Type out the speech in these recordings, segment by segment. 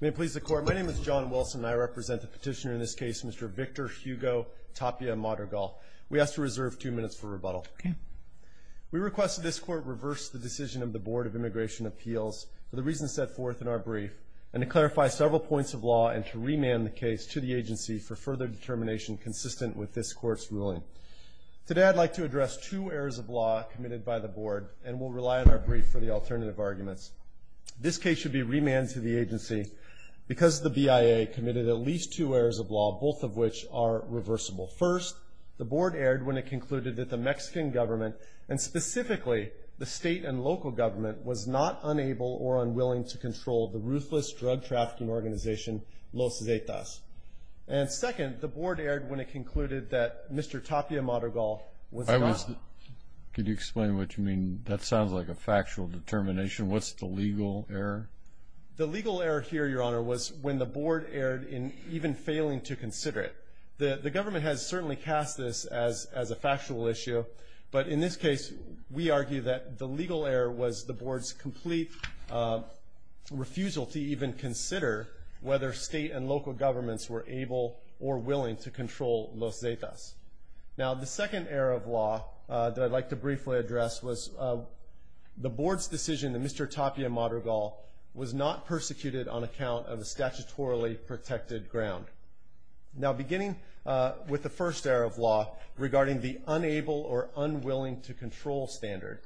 May it please the court, my name is John Wilson and I represent the petitioner in this case, Mr. Victor Hugo Tapia Madrigal. We ask to reserve two minutes for rebuttal. Okay. We request that this court reverse the decision of the Board of Immigration Appeals for the reasons set forth in our brief and to clarify several points of law and to remand the case to the agency for further determination consistent with this court's ruling. Today I'd like to address two errors of law committed by the board and we'll rely on our brief for the alternative arguments. This case should be remanded to the agency because the BIA committed at least two errors of law, both of which are reversible. First, the board erred when it concluded that the Mexican government and specifically the state and local government was not unable or unwilling to control the ruthless drug trafficking organization Los Zetas. And second, the board erred when it concluded that Mr. Tapia Madrigal was not... The legal error here, Your Honor, was when the board erred in even failing to consider it. The government has certainly cast this as a factual issue, but in this case, we argue that the legal error was the board's complete refusal to even consider whether state and local governments were able or willing to control Los Zetas. Now the second error of law that I'd like to briefly address was the board's decision that Mr. Tapia Madrigal was not persecuted on account of a statutorily protected ground. Now beginning with the first error of law regarding the unable or unwilling to control standard,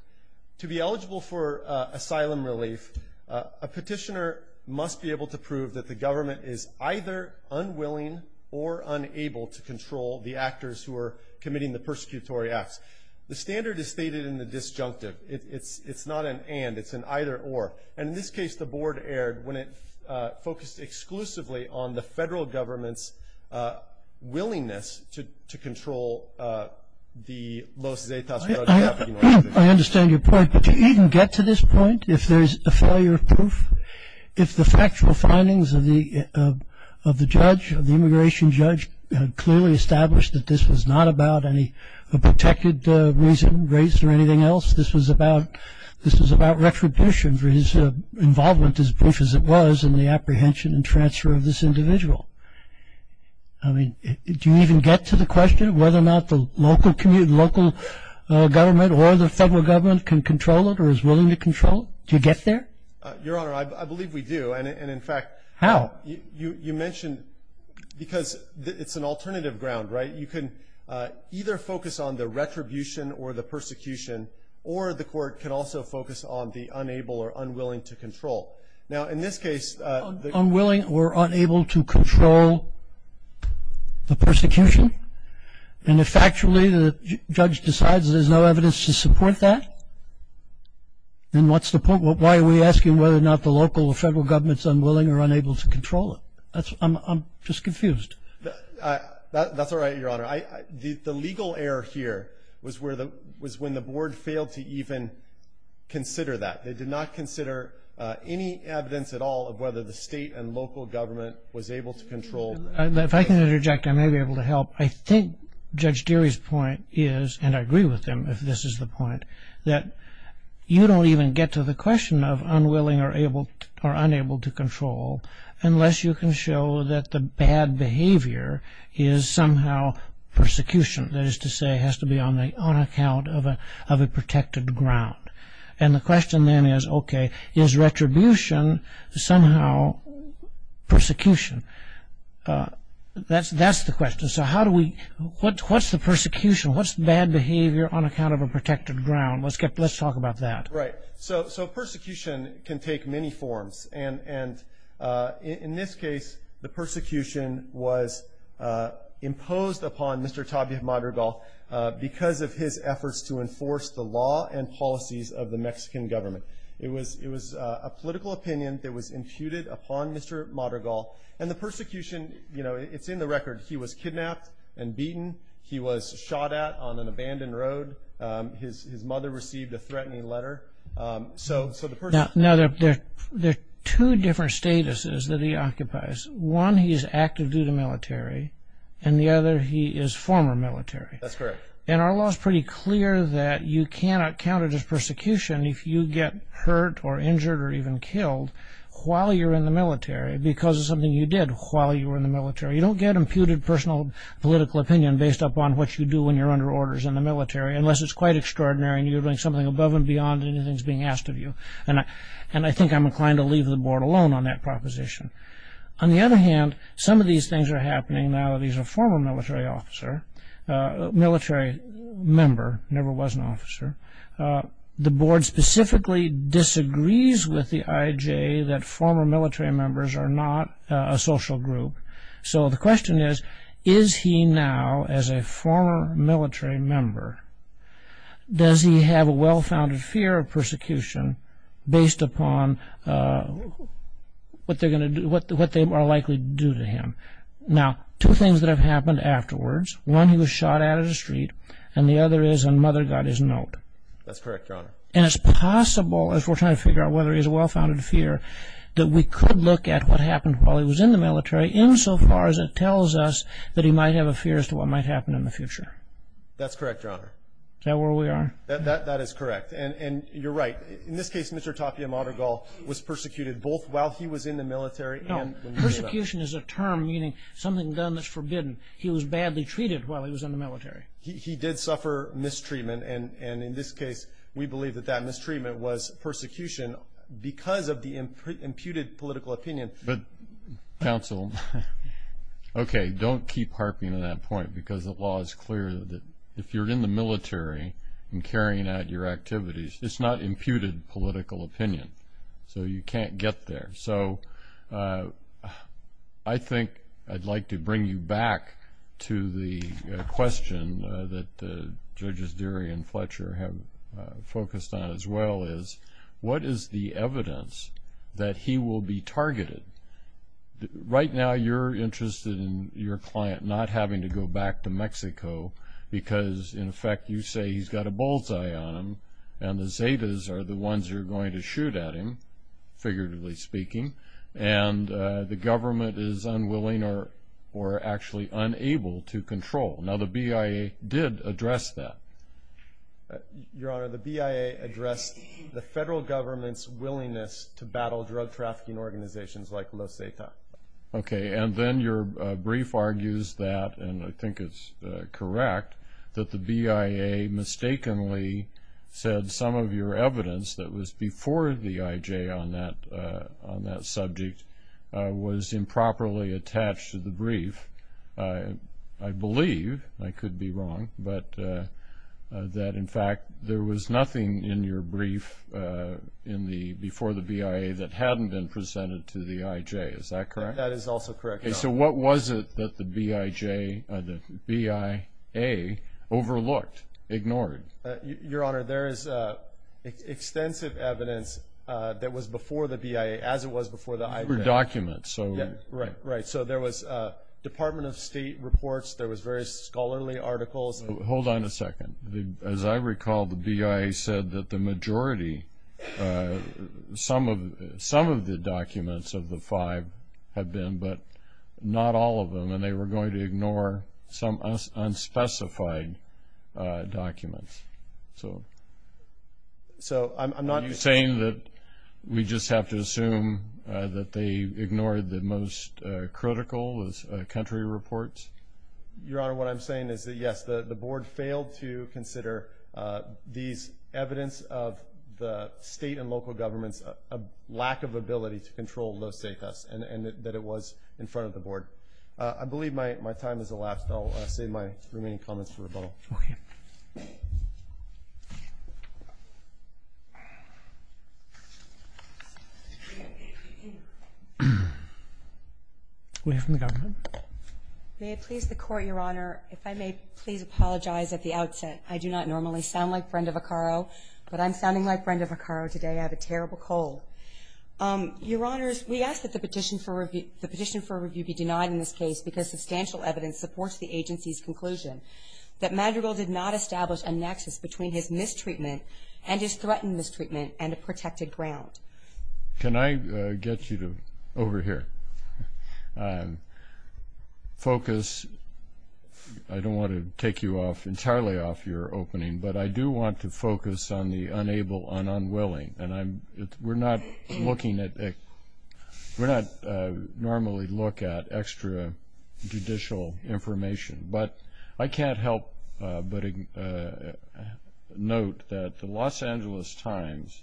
to be eligible for asylum relief, a petitioner must be able to prove that the government is either unwilling or unable to control the actors who are committing the persecutory acts. The standard is stated in the disjunctive. It's not an and, it's an either or. And in this case, the board erred when it focused exclusively on the federal government's willingness to control the Los Zetas drug trafficking organization. I understand your point, but do you even get to this point if there's a failure of proof? If the factual findings of the judge, of the immigration judge, clearly established that this was not about any protected reason, race, or anything else. This was about retribution for his involvement, as brief as it was, in the apprehension and transfer of this individual. I mean, do you even get to the question of whether or not the local government or the federal government can control it or is willing to control it? Do you get there? And in fact. How? You mentioned, because it's an alternative ground, right? You can either focus on the retribution or the persecution, or the court can also focus on the unable or unwilling to control. Now, in this case. Unwilling or unable to control the persecution? And if factually the judge decides there's no evidence to support that, then what's the point? Why are we asking whether or not the local or federal government is unwilling or unable to control it? I'm just confused. That's all right, Your Honor. The legal error here was when the board failed to even consider that. They did not consider any evidence at all of whether the state and local government was able to control. If I can interject, I may be able to help. I think Judge Deary's point is, and I agree with him if this is the point, that you don't even get to the question of unwilling or unable to control unless you can show that the bad behavior is somehow persecution. That is to say, it has to be on account of a protected ground. And the question then is, okay, is retribution somehow persecution? That's the question. So what's the persecution? What's bad behavior on account of a protected ground? Let's talk about that. Right. So persecution can take many forms. And in this case, the persecution was imposed upon Mr. Tabia Madrigal because of his efforts to enforce the law and policies of the Mexican government. It was a political opinion that was imputed upon Mr. Madrigal. And the persecution, you know, it's in the record. He was kidnapped and beaten. He was shot at on an abandoned road. His mother received a threatening letter. Now, there are two different statuses that he occupies. One, he's active due to military, and the other, he is former military. That's correct. And our law is pretty clear that you cannot count it as persecution if you get hurt or injured or even killed while you're in the military because of something you did while you were in the military. You don't get imputed personal political opinion based upon what you do when you're under orders in the military unless it's quite extraordinary and you're doing something above and beyond anything that's being asked of you. And I think I'm inclined to leave the board alone on that proposition. On the other hand, some of these things are happening now that he's a former military officer, military member, never was an officer. The board specifically disagrees with the IJ that former military members are not a social group. So the question is, is he now, as a former military member, does he have a well-founded fear of persecution based upon what they are likely to do to him? Now, two things that have happened afterwards. One, he was shot at in the street, and the other is when mother got his note. That's correct, Your Honor. And it's possible, as we're trying to figure out whether he has a well-founded fear, that we could look at what happened while he was in the military insofar as it tells us that he might have a fear as to what might happen in the future. That's correct, Your Honor. Is that where we are? That is correct. And you're right. In this case, Mr. Tapia Madrigal was persecuted both while he was in the military. No, persecution is a term meaning something done that's forbidden. He was badly treated while he was in the military. He did suffer mistreatment. And in this case, we believe that that mistreatment was persecution because of the imputed political opinion. But, counsel, okay, don't keep harping on that point because the law is clear that if you're in the military and carrying out your activities, it's not imputed political opinion, so you can't get there. So I think I'd like to bring you back to the question that Judges Deary and Fletcher have focused on as well is, what is the evidence that he will be targeted? Right now you're interested in your client not having to go back to Mexico because, in effect, you say he's got a bullseye on him and the Zetas are the ones who are going to shoot at him, figuratively speaking, and the government is unwilling or actually unable to control. Now, the BIA did address that. Your Honor, the BIA addressed the federal government's willingness to battle drug-trafficking organizations like Los Zetas. Okay, and then your brief argues that, and I think it's correct, that the BIA mistakenly said some of your evidence that was before the IJ on that subject was improperly attached to the brief. I believe, and I could be wrong, but that, in fact, there was nothing in your brief before the BIA that hadn't been presented to the IJ, is that correct? That is also correct, Your Honor. Okay, so what was it that the BIA overlooked, ignored? Your Honor, there is extensive evidence that was before the BIA, as it was before the IJ. These were documents. Right, right. So there was Department of State reports, there was various scholarly articles. Hold on a second. As I recall, the BIA said that the majority, some of the documents of the five have been, but not all of them, and they were going to ignore some unspecified documents. Are you saying that we just have to assume that they ignored the most critical country reports? Your Honor, what I'm saying is that, yes, the board failed to consider these evidence of the state and local governments' lack of ability to control those state cuts and that it was in front of the board. I believe my time has elapsed. I'll save my remaining comments for rebuttal. Okay. We have from the government. May it please the Court, Your Honor, if I may please apologize at the outset. I do not normally sound like Brenda Vaccaro, but I'm sounding like Brenda Vaccaro today. I have a terrible cold. Your Honors, we ask that the petition for review be denied in this case because substantial evidence supports the agency's conclusion that Madrigal did not establish a nexus between his mistreatment and his threatened mistreatment and a protected ground. Can I get you to, over here, focus? I don't want to take you off, entirely off your opening, but I do want to focus on the unable and unwilling. We're not normally looking at extrajudicial information, but I can't help but note that the Los Angeles Times,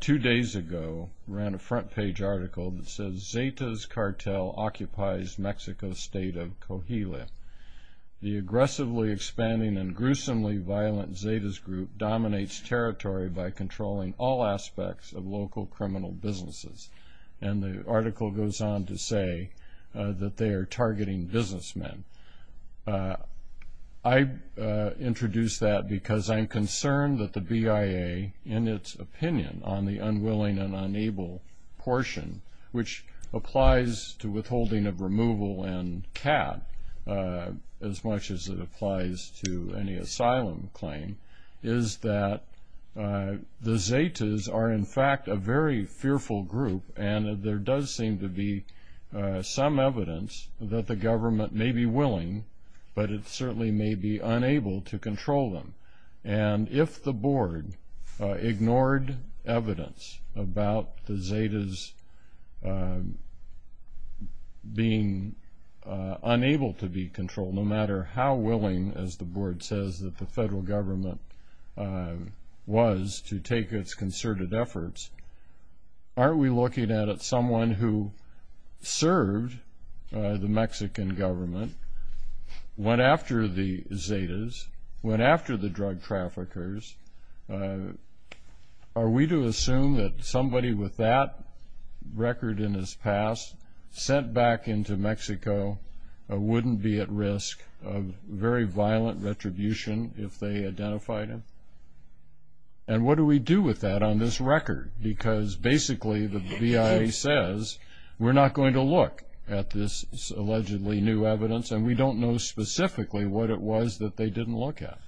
two days ago, ran a front-page article that says Zeta's Cartel Occupies Mexico's State of Coahuila. The aggressively expanding and gruesomely violent Zeta's group dominates territory by controlling all aspects of local criminal businesses. And the article goes on to say that they are targeting businessmen. I introduce that because I'm concerned that the BIA, in its opinion on the unwilling and unable portion, which applies to withholding of removal and cap as much as it applies to any asylum claim, is that the Zetas are, in fact, a very fearful group, and there does seem to be some evidence that the government may be willing, but it certainly may be unable to control them. And if the board ignored evidence about the Zetas being unable to be controlled, no matter how willing, as the board says, that the federal government was to take its concerted efforts, aren't we looking at someone who served the Mexican government, went after the Zetas, went after the drug traffickers? Are we to assume that somebody with that record in his past, sent back into Mexico, wouldn't be at risk of very violent retribution if they identified him? And what do we do with that on this record? Because basically the BIA says we're not going to look at this allegedly new evidence, and we don't know specifically what it was that they didn't look at.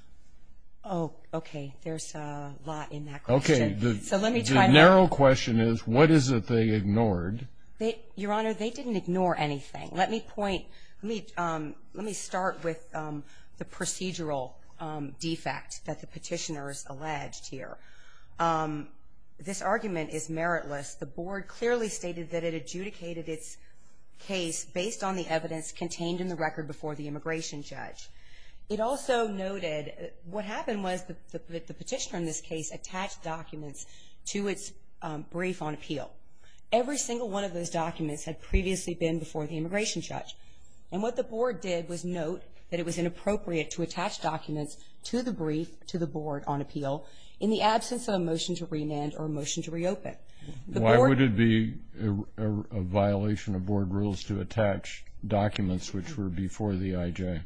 Oh, okay. There's a lot in that question. Okay. The narrow question is what is it they ignored? Your Honor, they didn't ignore anything. Let me start with the procedural defect that the petitioner has alleged here. This argument is meritless. The board clearly stated that it adjudicated its case based on the evidence contained in the record before the immigration judge. It also noted what happened was the petitioner in this case attached documents to its brief on appeal. Every single one of those documents had previously been before the immigration judge. And what the board did was note that it was inappropriate to attach documents to the brief to the board on appeal in the absence of a motion to remand or a motion to reopen. Why would it be a violation of board rules to attach documents which were before the IJ?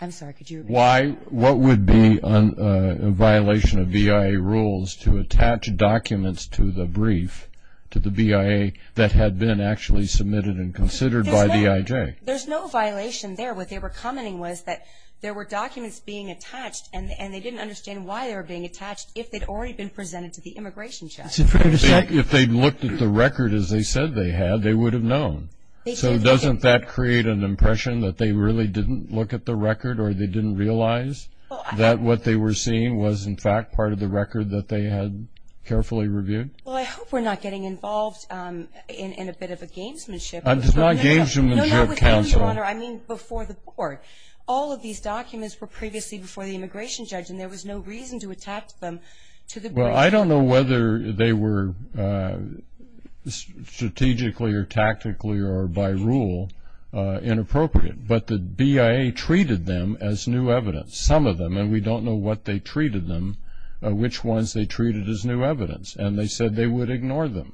I'm sorry, could you repeat that? What would be a violation of BIA rules to attach documents to the brief, to the BIA, that had been actually submitted and considered by the IJ? There's no violation there. What they were commenting was that there were documents being attached, and they didn't understand why they were being attached if they'd already been presented to the immigration judge. If they'd looked at the record as they said they had, they would have known. So doesn't that create an impression that they really didn't look at the record or they didn't realize that what they were seeing was, in fact, part of the record that they had carefully reviewed? Well, I hope we're not getting involved in a bit of a gamesmanship. It's not gamesmanship, counsel. No, not with you, Your Honor. I mean before the board. All of these documents were previously before the immigration judge, and there was no reason to attach them to the brief. Well, I don't know whether they were strategically or tactically or by rule inappropriate, but the BIA treated them as new evidence, some of them, and we don't know what they treated them, which ones they treated as new evidence, and they said they would ignore them.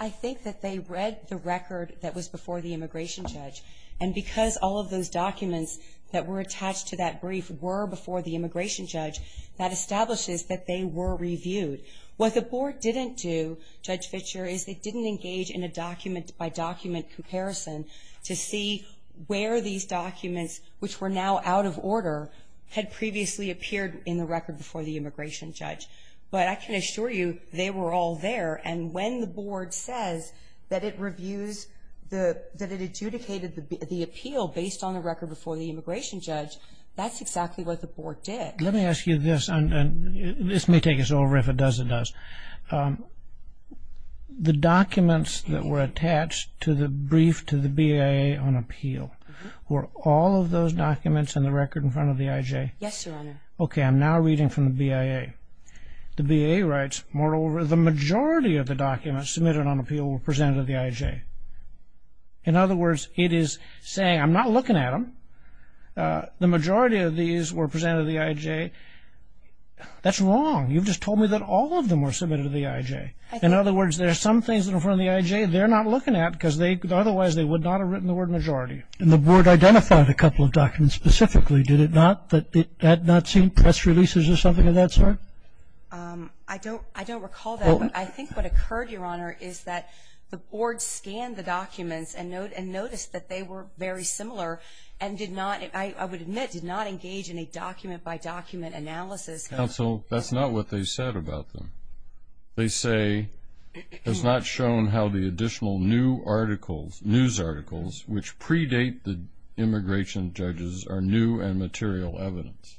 I think that they read the record that was before the immigration judge, and because all of those documents that were attached to that brief were before the immigration judge, that establishes that they were reviewed. What the board didn't do, Judge Fitcher, is they didn't engage in a document-by-document comparison to see where these documents, which were now out of order, had previously appeared in the record before the immigration judge. But I can assure you they were all there, and when the board says that it adjudicated the appeal based on the record before the immigration judge, that's exactly what the board did. Let me ask you this, and this may take us over. If it does, it does. The documents that were attached to the brief to the BIA on appeal, were all of those documents in the record in front of the IJ? Yes, Your Honor. Okay, I'm now reading from the BIA. The BIA writes, moreover, the majority of the documents submitted on appeal were presented to the IJ. In other words, it is saying, I'm not looking at them. The majority of these were presented to the IJ. That's wrong. You've just told me that all of them were submitted to the IJ. In other words, there are some things in front of the IJ they're not looking at because otherwise they would not have written the word majority. And the board identified a couple of documents specifically, did it not? That had not seen press releases or something of that sort? I don't recall that. I think what occurred, Your Honor, is that the board scanned the documents and noticed that they were very similar and did not, I would admit, did not engage in a document-by-document analysis. Counsel, that's not what they said about them. They say, has not shown how the additional new articles, news articles, which predate the immigration judges are new and material evidence.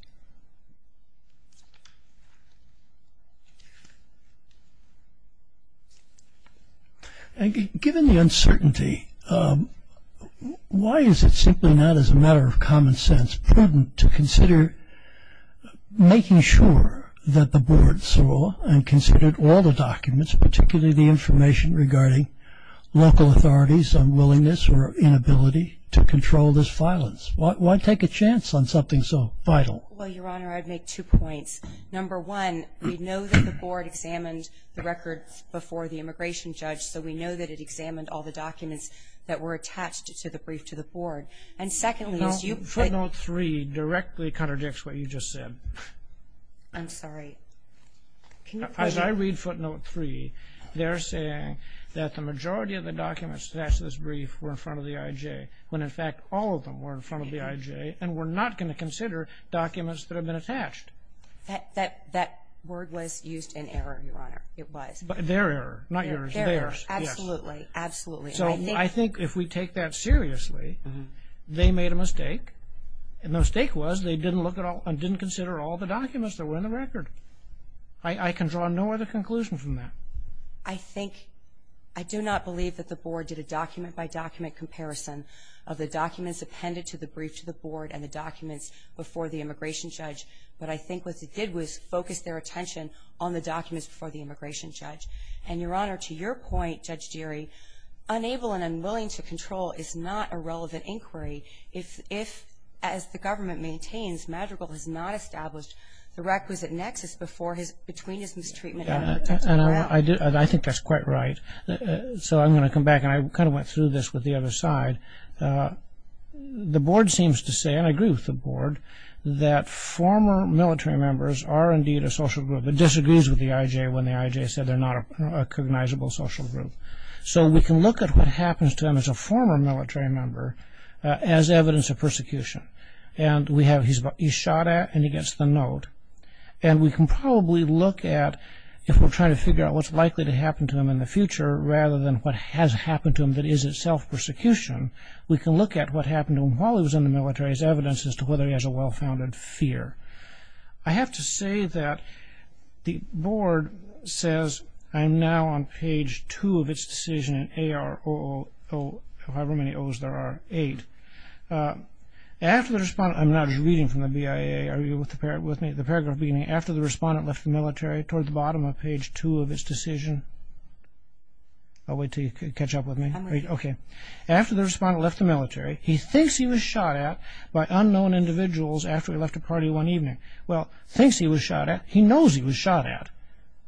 Given the uncertainty, why is it simply not, as a matter of common sense, prudent to consider making sure that the board saw and considered all the documents, particularly the information, regarding local authorities' unwillingness or inability to control this violence? Why take a chance on something so vital? Well, Your Honor, I'd make two points. Number one, we know that the board examined the records before the immigration judge, so we know that it examined all the documents that were attached to the brief to the board. And secondly, as you put – No, footnote three directly contradicts what you just said. I'm sorry. As I read footnote three, they're saying that the majority of the documents attached to this brief were in front of the IJ, when in fact all of them were in front of the IJ and were not going to consider documents that had been attached. That word was used in error, Your Honor. It was. Their error, not yours. Their error. Absolutely. So I think if we take that seriously, they made a mistake, and the mistake was they didn't look at all – and didn't consider all the documents that were in the record. I can draw no other conclusion from that. I think – I do not believe that the board did a document-by-document comparison of the documents appended to the brief to the board and the documents before the immigration judge, but I think what they did was focus their attention on the documents before the immigration judge. And, Your Honor, to your point, Judge Deary, unable and unwilling to control is not a relevant inquiry if, as the government maintains, Madrigal has not established the requisite nexus between his mistreatment and protection of the right. I think that's quite right. So I'm going to come back, and I kind of went through this with the other side. The board seems to say, and I agree with the board, that former military members are indeed a social group. It disagrees with the IJ when the IJ said they're not a cognizable social group. So we can look at what happens to them as a former military member as evidence of persecution. And he's shot at, and he gets the note. And we can probably look at, if we're trying to figure out what's likely to happen to him in the future rather than what has happened to him that is itself persecution, we can look at what happened to him while he was in the military as evidence as to whether he has a well-founded fear. I have to say that the board says, I'm now on page two of its decision in AROO, however many O's there are, eight. After the respondent, I'm now just reading from the BIA. Are you with me? The paragraph beginning, after the respondent left the military, toward the bottom of page two of its decision. I'll wait until you catch up with me. After the respondent left the military, he thinks he was shot at by unknown individuals after he left a party one evening. Well, thinks he was shot at. He knows he was shot at.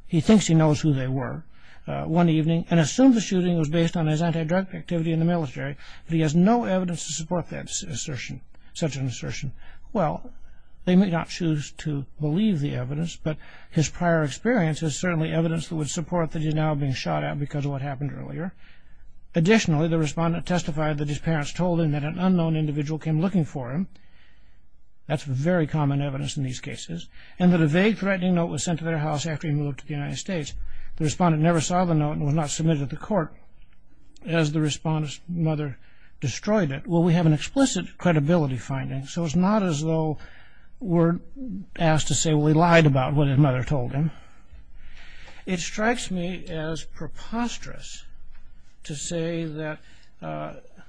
He thinks he knows who they were one evening and assumes the shooting was based on his anti-drug activity in the military, but he has no evidence to support that assertion, such an assertion. Well, they may not choose to believe the evidence, but his prior experience is certainly evidence that would support that he's now being shot at because of what happened earlier. Additionally, the respondent testified that his parents told him that an unknown individual came looking for him. That's very common evidence in these cases, and that a vague threatening note was sent to their house after he moved to the United States. The respondent never saw the note and was not submitted to the court. As the respondent's mother destroyed it, well, we have an explicit credibility finding, so it's not as though we're asked to say, well, he lied about what his mother told him. It strikes me as preposterous to say that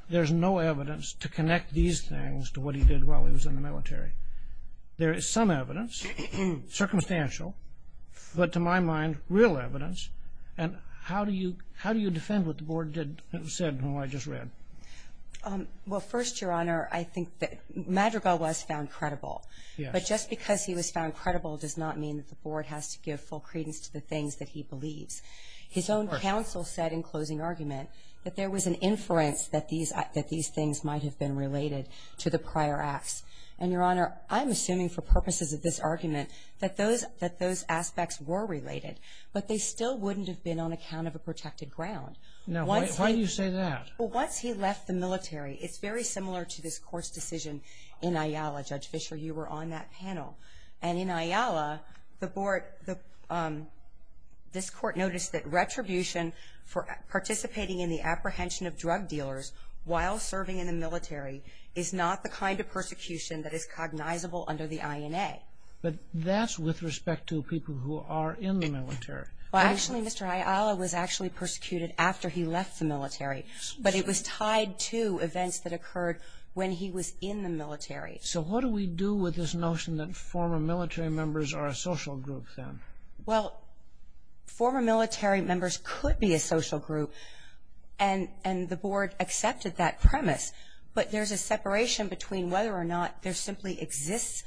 there's no evidence to connect these things to what he did while he was in the military. There is some evidence, circumstantial, but to my mind, real evidence, and how do you defend what the Board said and what I just read? Well, first, Your Honor, I think that Madrigal was found credible, but just because he was found credible does not mean that the Board has to give full credence to the things that he believes. His own counsel said in closing argument that there was an inference that these things might have been related to the prior acts. And, Your Honor, I'm assuming for purposes of this argument that those aspects were related, but they still wouldn't have been on account of a protected ground. Now, why do you say that? Well, once he left the military, it's very similar to this Court's decision in Ayala. Judge Fischer, you were on that panel. And in Ayala, the Board, this Court noticed that retribution for participating in the apprehension of drug dealers while serving in the military is not the kind of persecution that is cognizable under the INA. But that's with respect to people who are in the military. Well, actually, Mr. Ayala was actually persecuted after he left the military, but it was tied to events that occurred when he was in the military. So what do we do with this notion that former military members are a social group then? Well, former military members could be a social group, and the Board accepted that premise. But there's a separation between whether or not there simply exists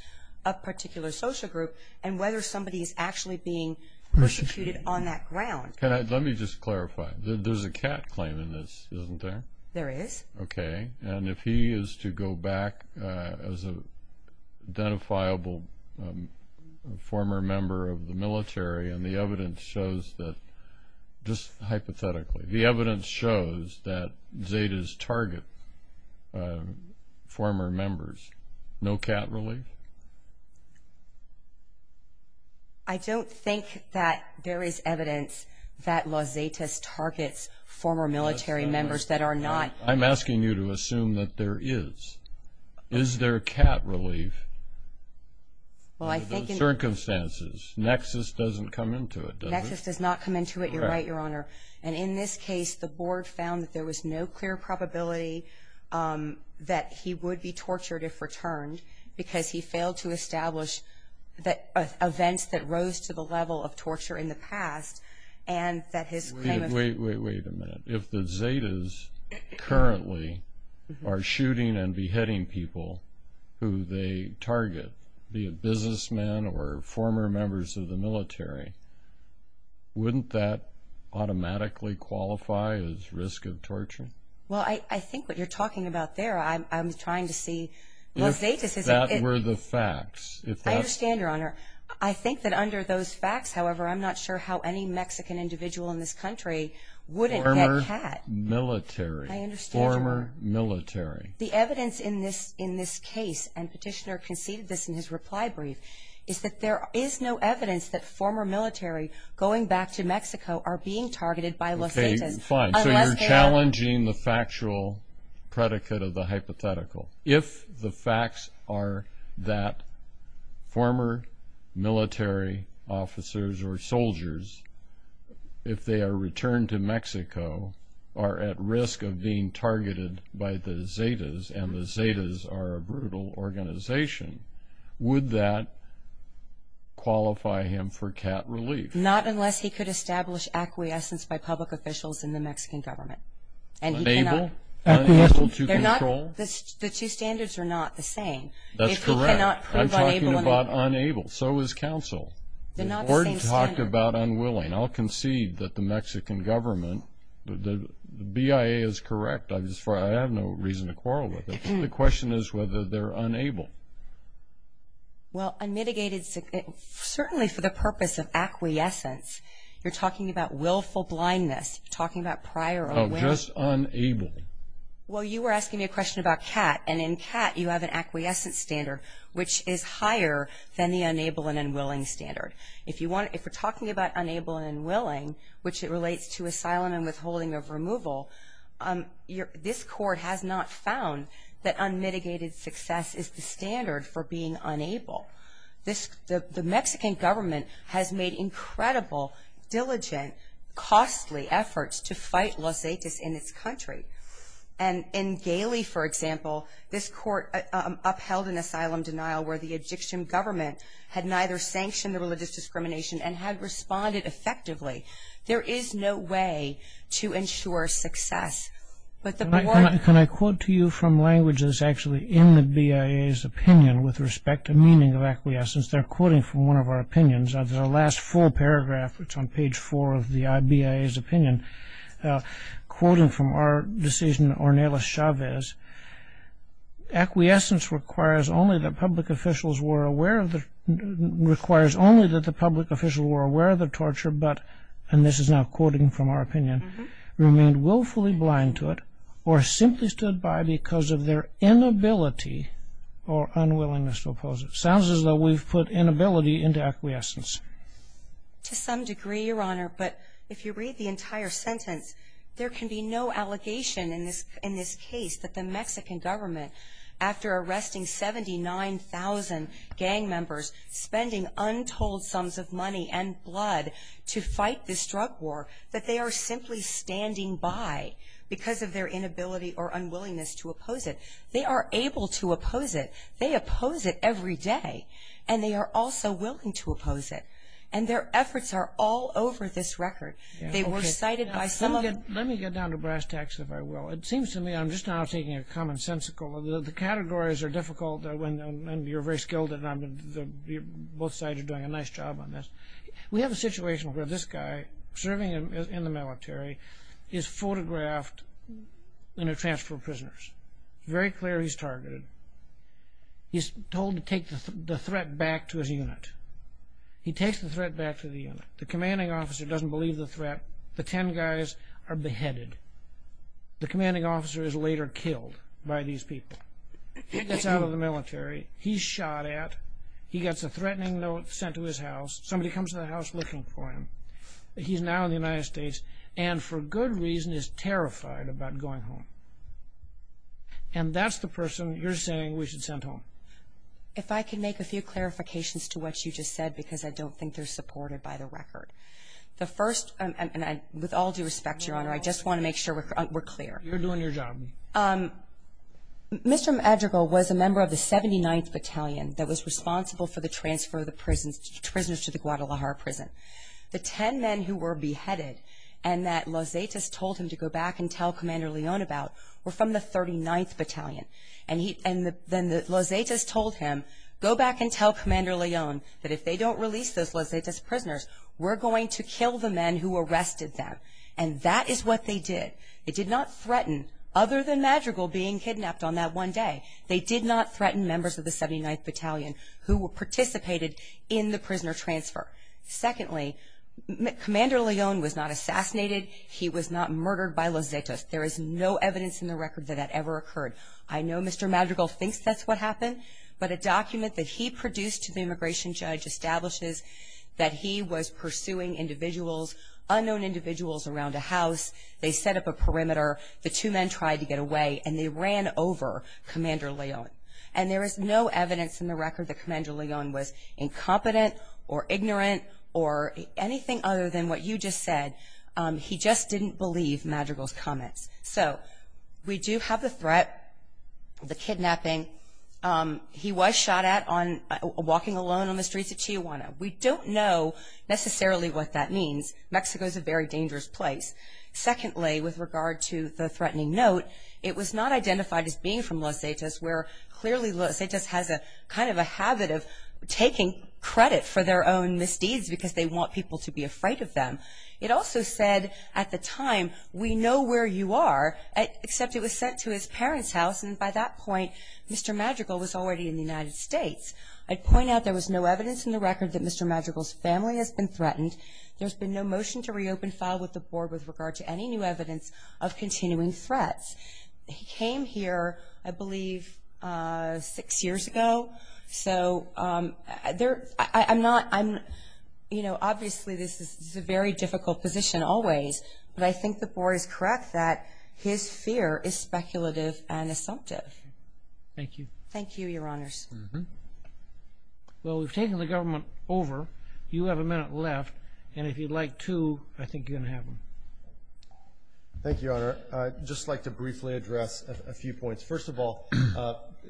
a particular social group and whether somebody is actually being persecuted on that ground. Let me just clarify. There's a cat claim in this, isn't there? There is. Okay, and if he is to go back as an identifiable former member of the military, and the evidence shows that, just hypothetically, the evidence shows that Zetas target former members. No cat relief? I don't think that there is evidence that Los Zetas targets former military members that are not. I'm asking you to assume that there is. Is there cat relief under those circumstances? Nexus doesn't come into it, does it? Nexus does not come into it, you're right, Your Honor. And in this case, the Board found that there was no clear probability that he would be tortured if returned because he failed to establish events that rose to the level of torture in the past. Wait a minute. If the Zetas currently are shooting and beheading people who they target, be it businessmen or former members of the military, wouldn't that automatically qualify as risk of torture? Well, I think what you're talking about there, I'm trying to see. If that were the facts. I understand, Your Honor. I think that under those facts, however, I'm not sure how any Mexican individual in this country wouldn't get cat. Former military. I understand, Your Honor. Former military. The evidence in this case, and Petitioner conceded this in his reply brief, is that there is no evidence that former military going back to Mexico are being targeted by Los Zetas. Okay, fine. So you're challenging the factual predicate of the hypothetical. If the facts are that former military officers or soldiers, if they are returned to Mexico, are at risk of being targeted by the Zetas, and the Zetas are a brutal organization, would that qualify him for cat relief? Not unless he could establish acquiescence by public officials in the Mexican government. Unable? Unable to control? The two standards are not the same. That's correct. If he cannot prove unable. I'm talking about unable. So is counsel. They're not the same standard. I'm talking about unwilling. I'll concede that the Mexican government, the BIA is correct. I have no reason to quarrel with it. The question is whether they're unable. Well, unmitigated, certainly for the purpose of acquiescence, you're talking about willful blindness. You're talking about prior unwilling. Oh, just unable. Well, you were asking me a question about cat, and in cat you have an acquiescence standard, which is higher than the unable and unwilling standard. If we're talking about unable and unwilling, which it relates to asylum and withholding of removal, this court has not found that unmitigated success is the standard for being unable. The Mexican government has made incredible, diligent, costly efforts to fight Los Ates in its country. And in Galey, for example, this court upheld an asylum denial where the Egyptian government had neither sanctioned the religious discrimination and had responded effectively. There is no way to ensure success. Can I quote to you from language that's actually in the BIA's opinion with respect to meaning of acquiescence? They're quoting from one of our opinions. The last full paragraph, which is on page 4 of the BIA's opinion, quoting from our decision, Ornelas Chavez, acquiescence requires only that the public officials were aware of the torture but, and this is now quoting from our opinion, remained willfully blind to it or simply stood by because of their inability or unwillingness to oppose it. Sounds as though we've put inability into acquiescence. To some degree, Your Honor, but if you read the entire sentence, there can be no allegation in this case that the Mexican government, after arresting 79,000 gang members, spending untold sums of money and blood to fight this drug war, that they are simply standing by because of their inability or unwillingness to oppose it. They are able to oppose it. They oppose it every day. And they are also willing to oppose it. And their efforts are all over this record. They were cited by some of the- Let me get down to brass tacks, if I will. It seems to me, I'm just now taking a commonsensical, the categories are difficult and you're very skilled and both sides are doing a nice job on this. We have a situation where this guy, serving in the military, is photographed in a transfer of prisoners. It's very clear he's targeted. He's told to take the threat back to his unit. He takes the threat back to the unit. The commanding officer doesn't believe the threat. The ten guys are beheaded. The commanding officer is later killed by these people. He gets out of the military. He's shot at. He gets a threatening note sent to his house. Somebody comes to the house looking for him. He's now in the United States and for good reason is terrified about going home. And that's the person you're saying we should send home. If I could make a few clarifications to what you just said because I don't think they're supported by the record. The first, and with all due respect, Your Honor, I just want to make sure we're clear. You're doing your job. Mr. Madrigal was a member of the 79th Battalion that was responsible for the transfer of the prisoners to the Guadalajara prison. The ten men who were beheaded and that Los Zetas told him to go back and tell Commander Leone about were from the 39th Battalion. And then Los Zetas told him, go back and tell Commander Leone that if they don't release those Los Zetas prisoners, we're going to kill the men who arrested them. And that is what they did. They did not threaten other than Madrigal being kidnapped on that one day. They did not threaten members of the 79th Battalion who participated in the prisoner transfer. Secondly, Commander Leone was not assassinated. He was not murdered by Los Zetas. There is no evidence in the record that that ever occurred. I know Mr. Madrigal thinks that's what happened, but a document that he produced to the immigration judge establishes that he was pursuing individuals, unknown individuals, around a house. They set up a perimeter. The two men tried to get away, and they ran over Commander Leone. And there is no evidence in the record that Commander Leone was incompetent or ignorant or anything other than what you just said. He just didn't believe Madrigal's comments. So we do have the threat, the kidnapping. He was shot at walking alone on the streets of Tijuana. We don't know necessarily what that means. Mexico is a very dangerous place. Secondly, with regard to the threatening note, it was not identified as being from Los Zetas, where clearly Los Zetas has a kind of a habit of taking credit for their own misdeeds because they want people to be afraid of them. It also said at the time, we know where you are, except it was sent to his parents' house, and by that point Mr. Madrigal was already in the United States. I'd point out there was no evidence in the record that Mr. Madrigal's family has been threatened. There's been no motion to reopen file with the board with regard to any new evidence of continuing threats. He came here, I believe, six years ago. So I'm not, you know, obviously this is a very difficult position always, but I think the board is correct that his fear is speculative and assumptive. Thank you. Thank you, Your Honors. Well, we've taken the government over. You have a minute left, and if you'd like to, I think you're going to have one. Thank you, Your Honor. I'd just like to briefly address a few points. First of all,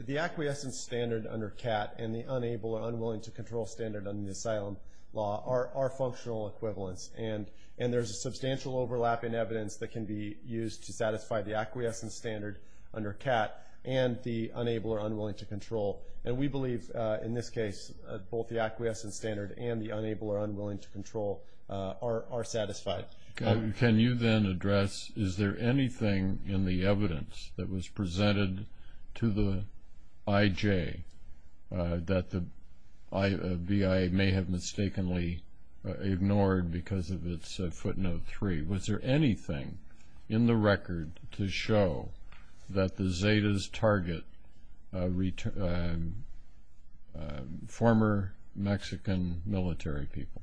the acquiescence standard under CAT and the unable or unwilling to control standard under the asylum law are functional equivalents, and there's a substantial overlap in evidence that can be used to satisfy the acquiescence standard under CAT and the unable or unwilling to control. And we believe, in this case, both the acquiescence standard and the unable or unwilling to control are satisfied. Can you then address is there anything in the evidence that was presented to the IJ that the BIA may have mistakenly ignored because of its footnote three? Was there anything in the record to show that the Zetas target former Mexican military people?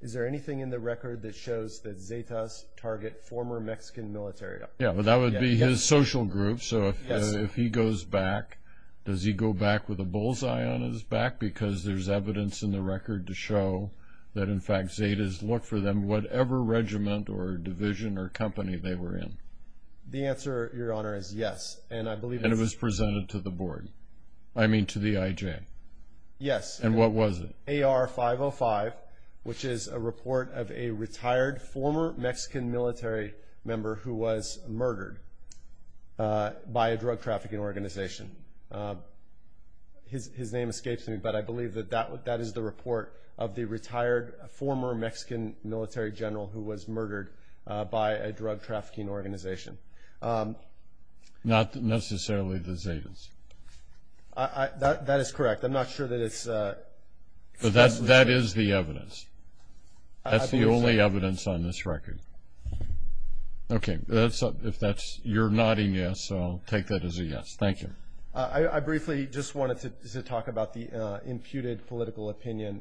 Is there anything in the record that shows that Zetas target former Mexican military? Yeah, well, that would be his social group. So if he goes back, does he go back with a bullseye on his back? Because there's evidence in the record to show that, in fact, Zetas look for them whatever regiment or division or company they were in. The answer, Your Honor, is yes. And it was presented to the board. I mean to the IJ. Yes. And what was it? AR-505, which is a report of a retired former Mexican military member who was murdered by a drug trafficking organization. His name escapes me, but I believe that that is the report of the retired former Mexican military general who was murdered by a drug trafficking organization. Not necessarily the Zetas. That is correct. I'm not sure that it's specific. That is the evidence. That's the only evidence on this record. Okay. If that's your nodding yes, I'll take that as a yes. Thank you. I briefly just wanted to talk about the imputed political opinion.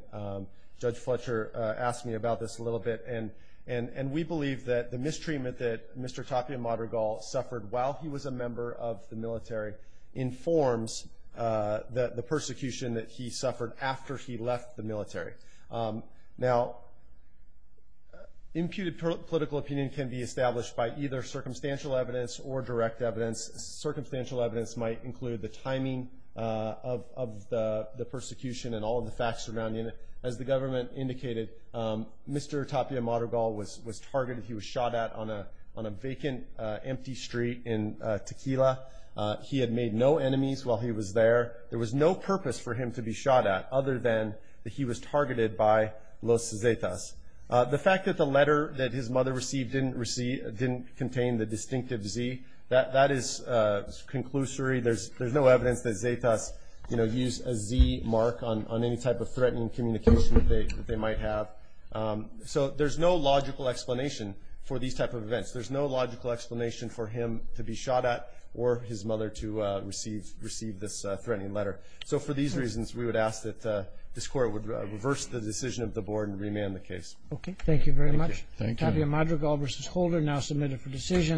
Judge Fletcher asked me about this a little bit, and we believe that the mistreatment that Mr. Tapia Madrigal suffered while he was a member of the military informs the persecution that he suffered after he left the military. Now, imputed political opinion can be established by either circumstantial evidence or direct evidence. Circumstantial evidence might include the timing of the persecution and all of the facts surrounding it. As the government indicated, Mr. Tapia Madrigal was targeted. He was shot at on a vacant, empty street in Tequila. He had made no enemies while he was there. There was no purpose for him to be shot at other than that he was targeted by Los Zetas. The fact that the letter that his mother received didn't contain the distinctive Z, that is conclusory. There's no evidence that Zetas used a Z mark on any type of threatening communication that they might have. So there's no logical explanation for these type of events. There's no logical explanation for him to be shot at or his mother to receive this threatening letter. So for these reasons, we would ask that this court would reverse the decision of the board and remand the case. Okay. Thank you very much. Thank you. Tapia Madrigal v. Holder now submitted for decision.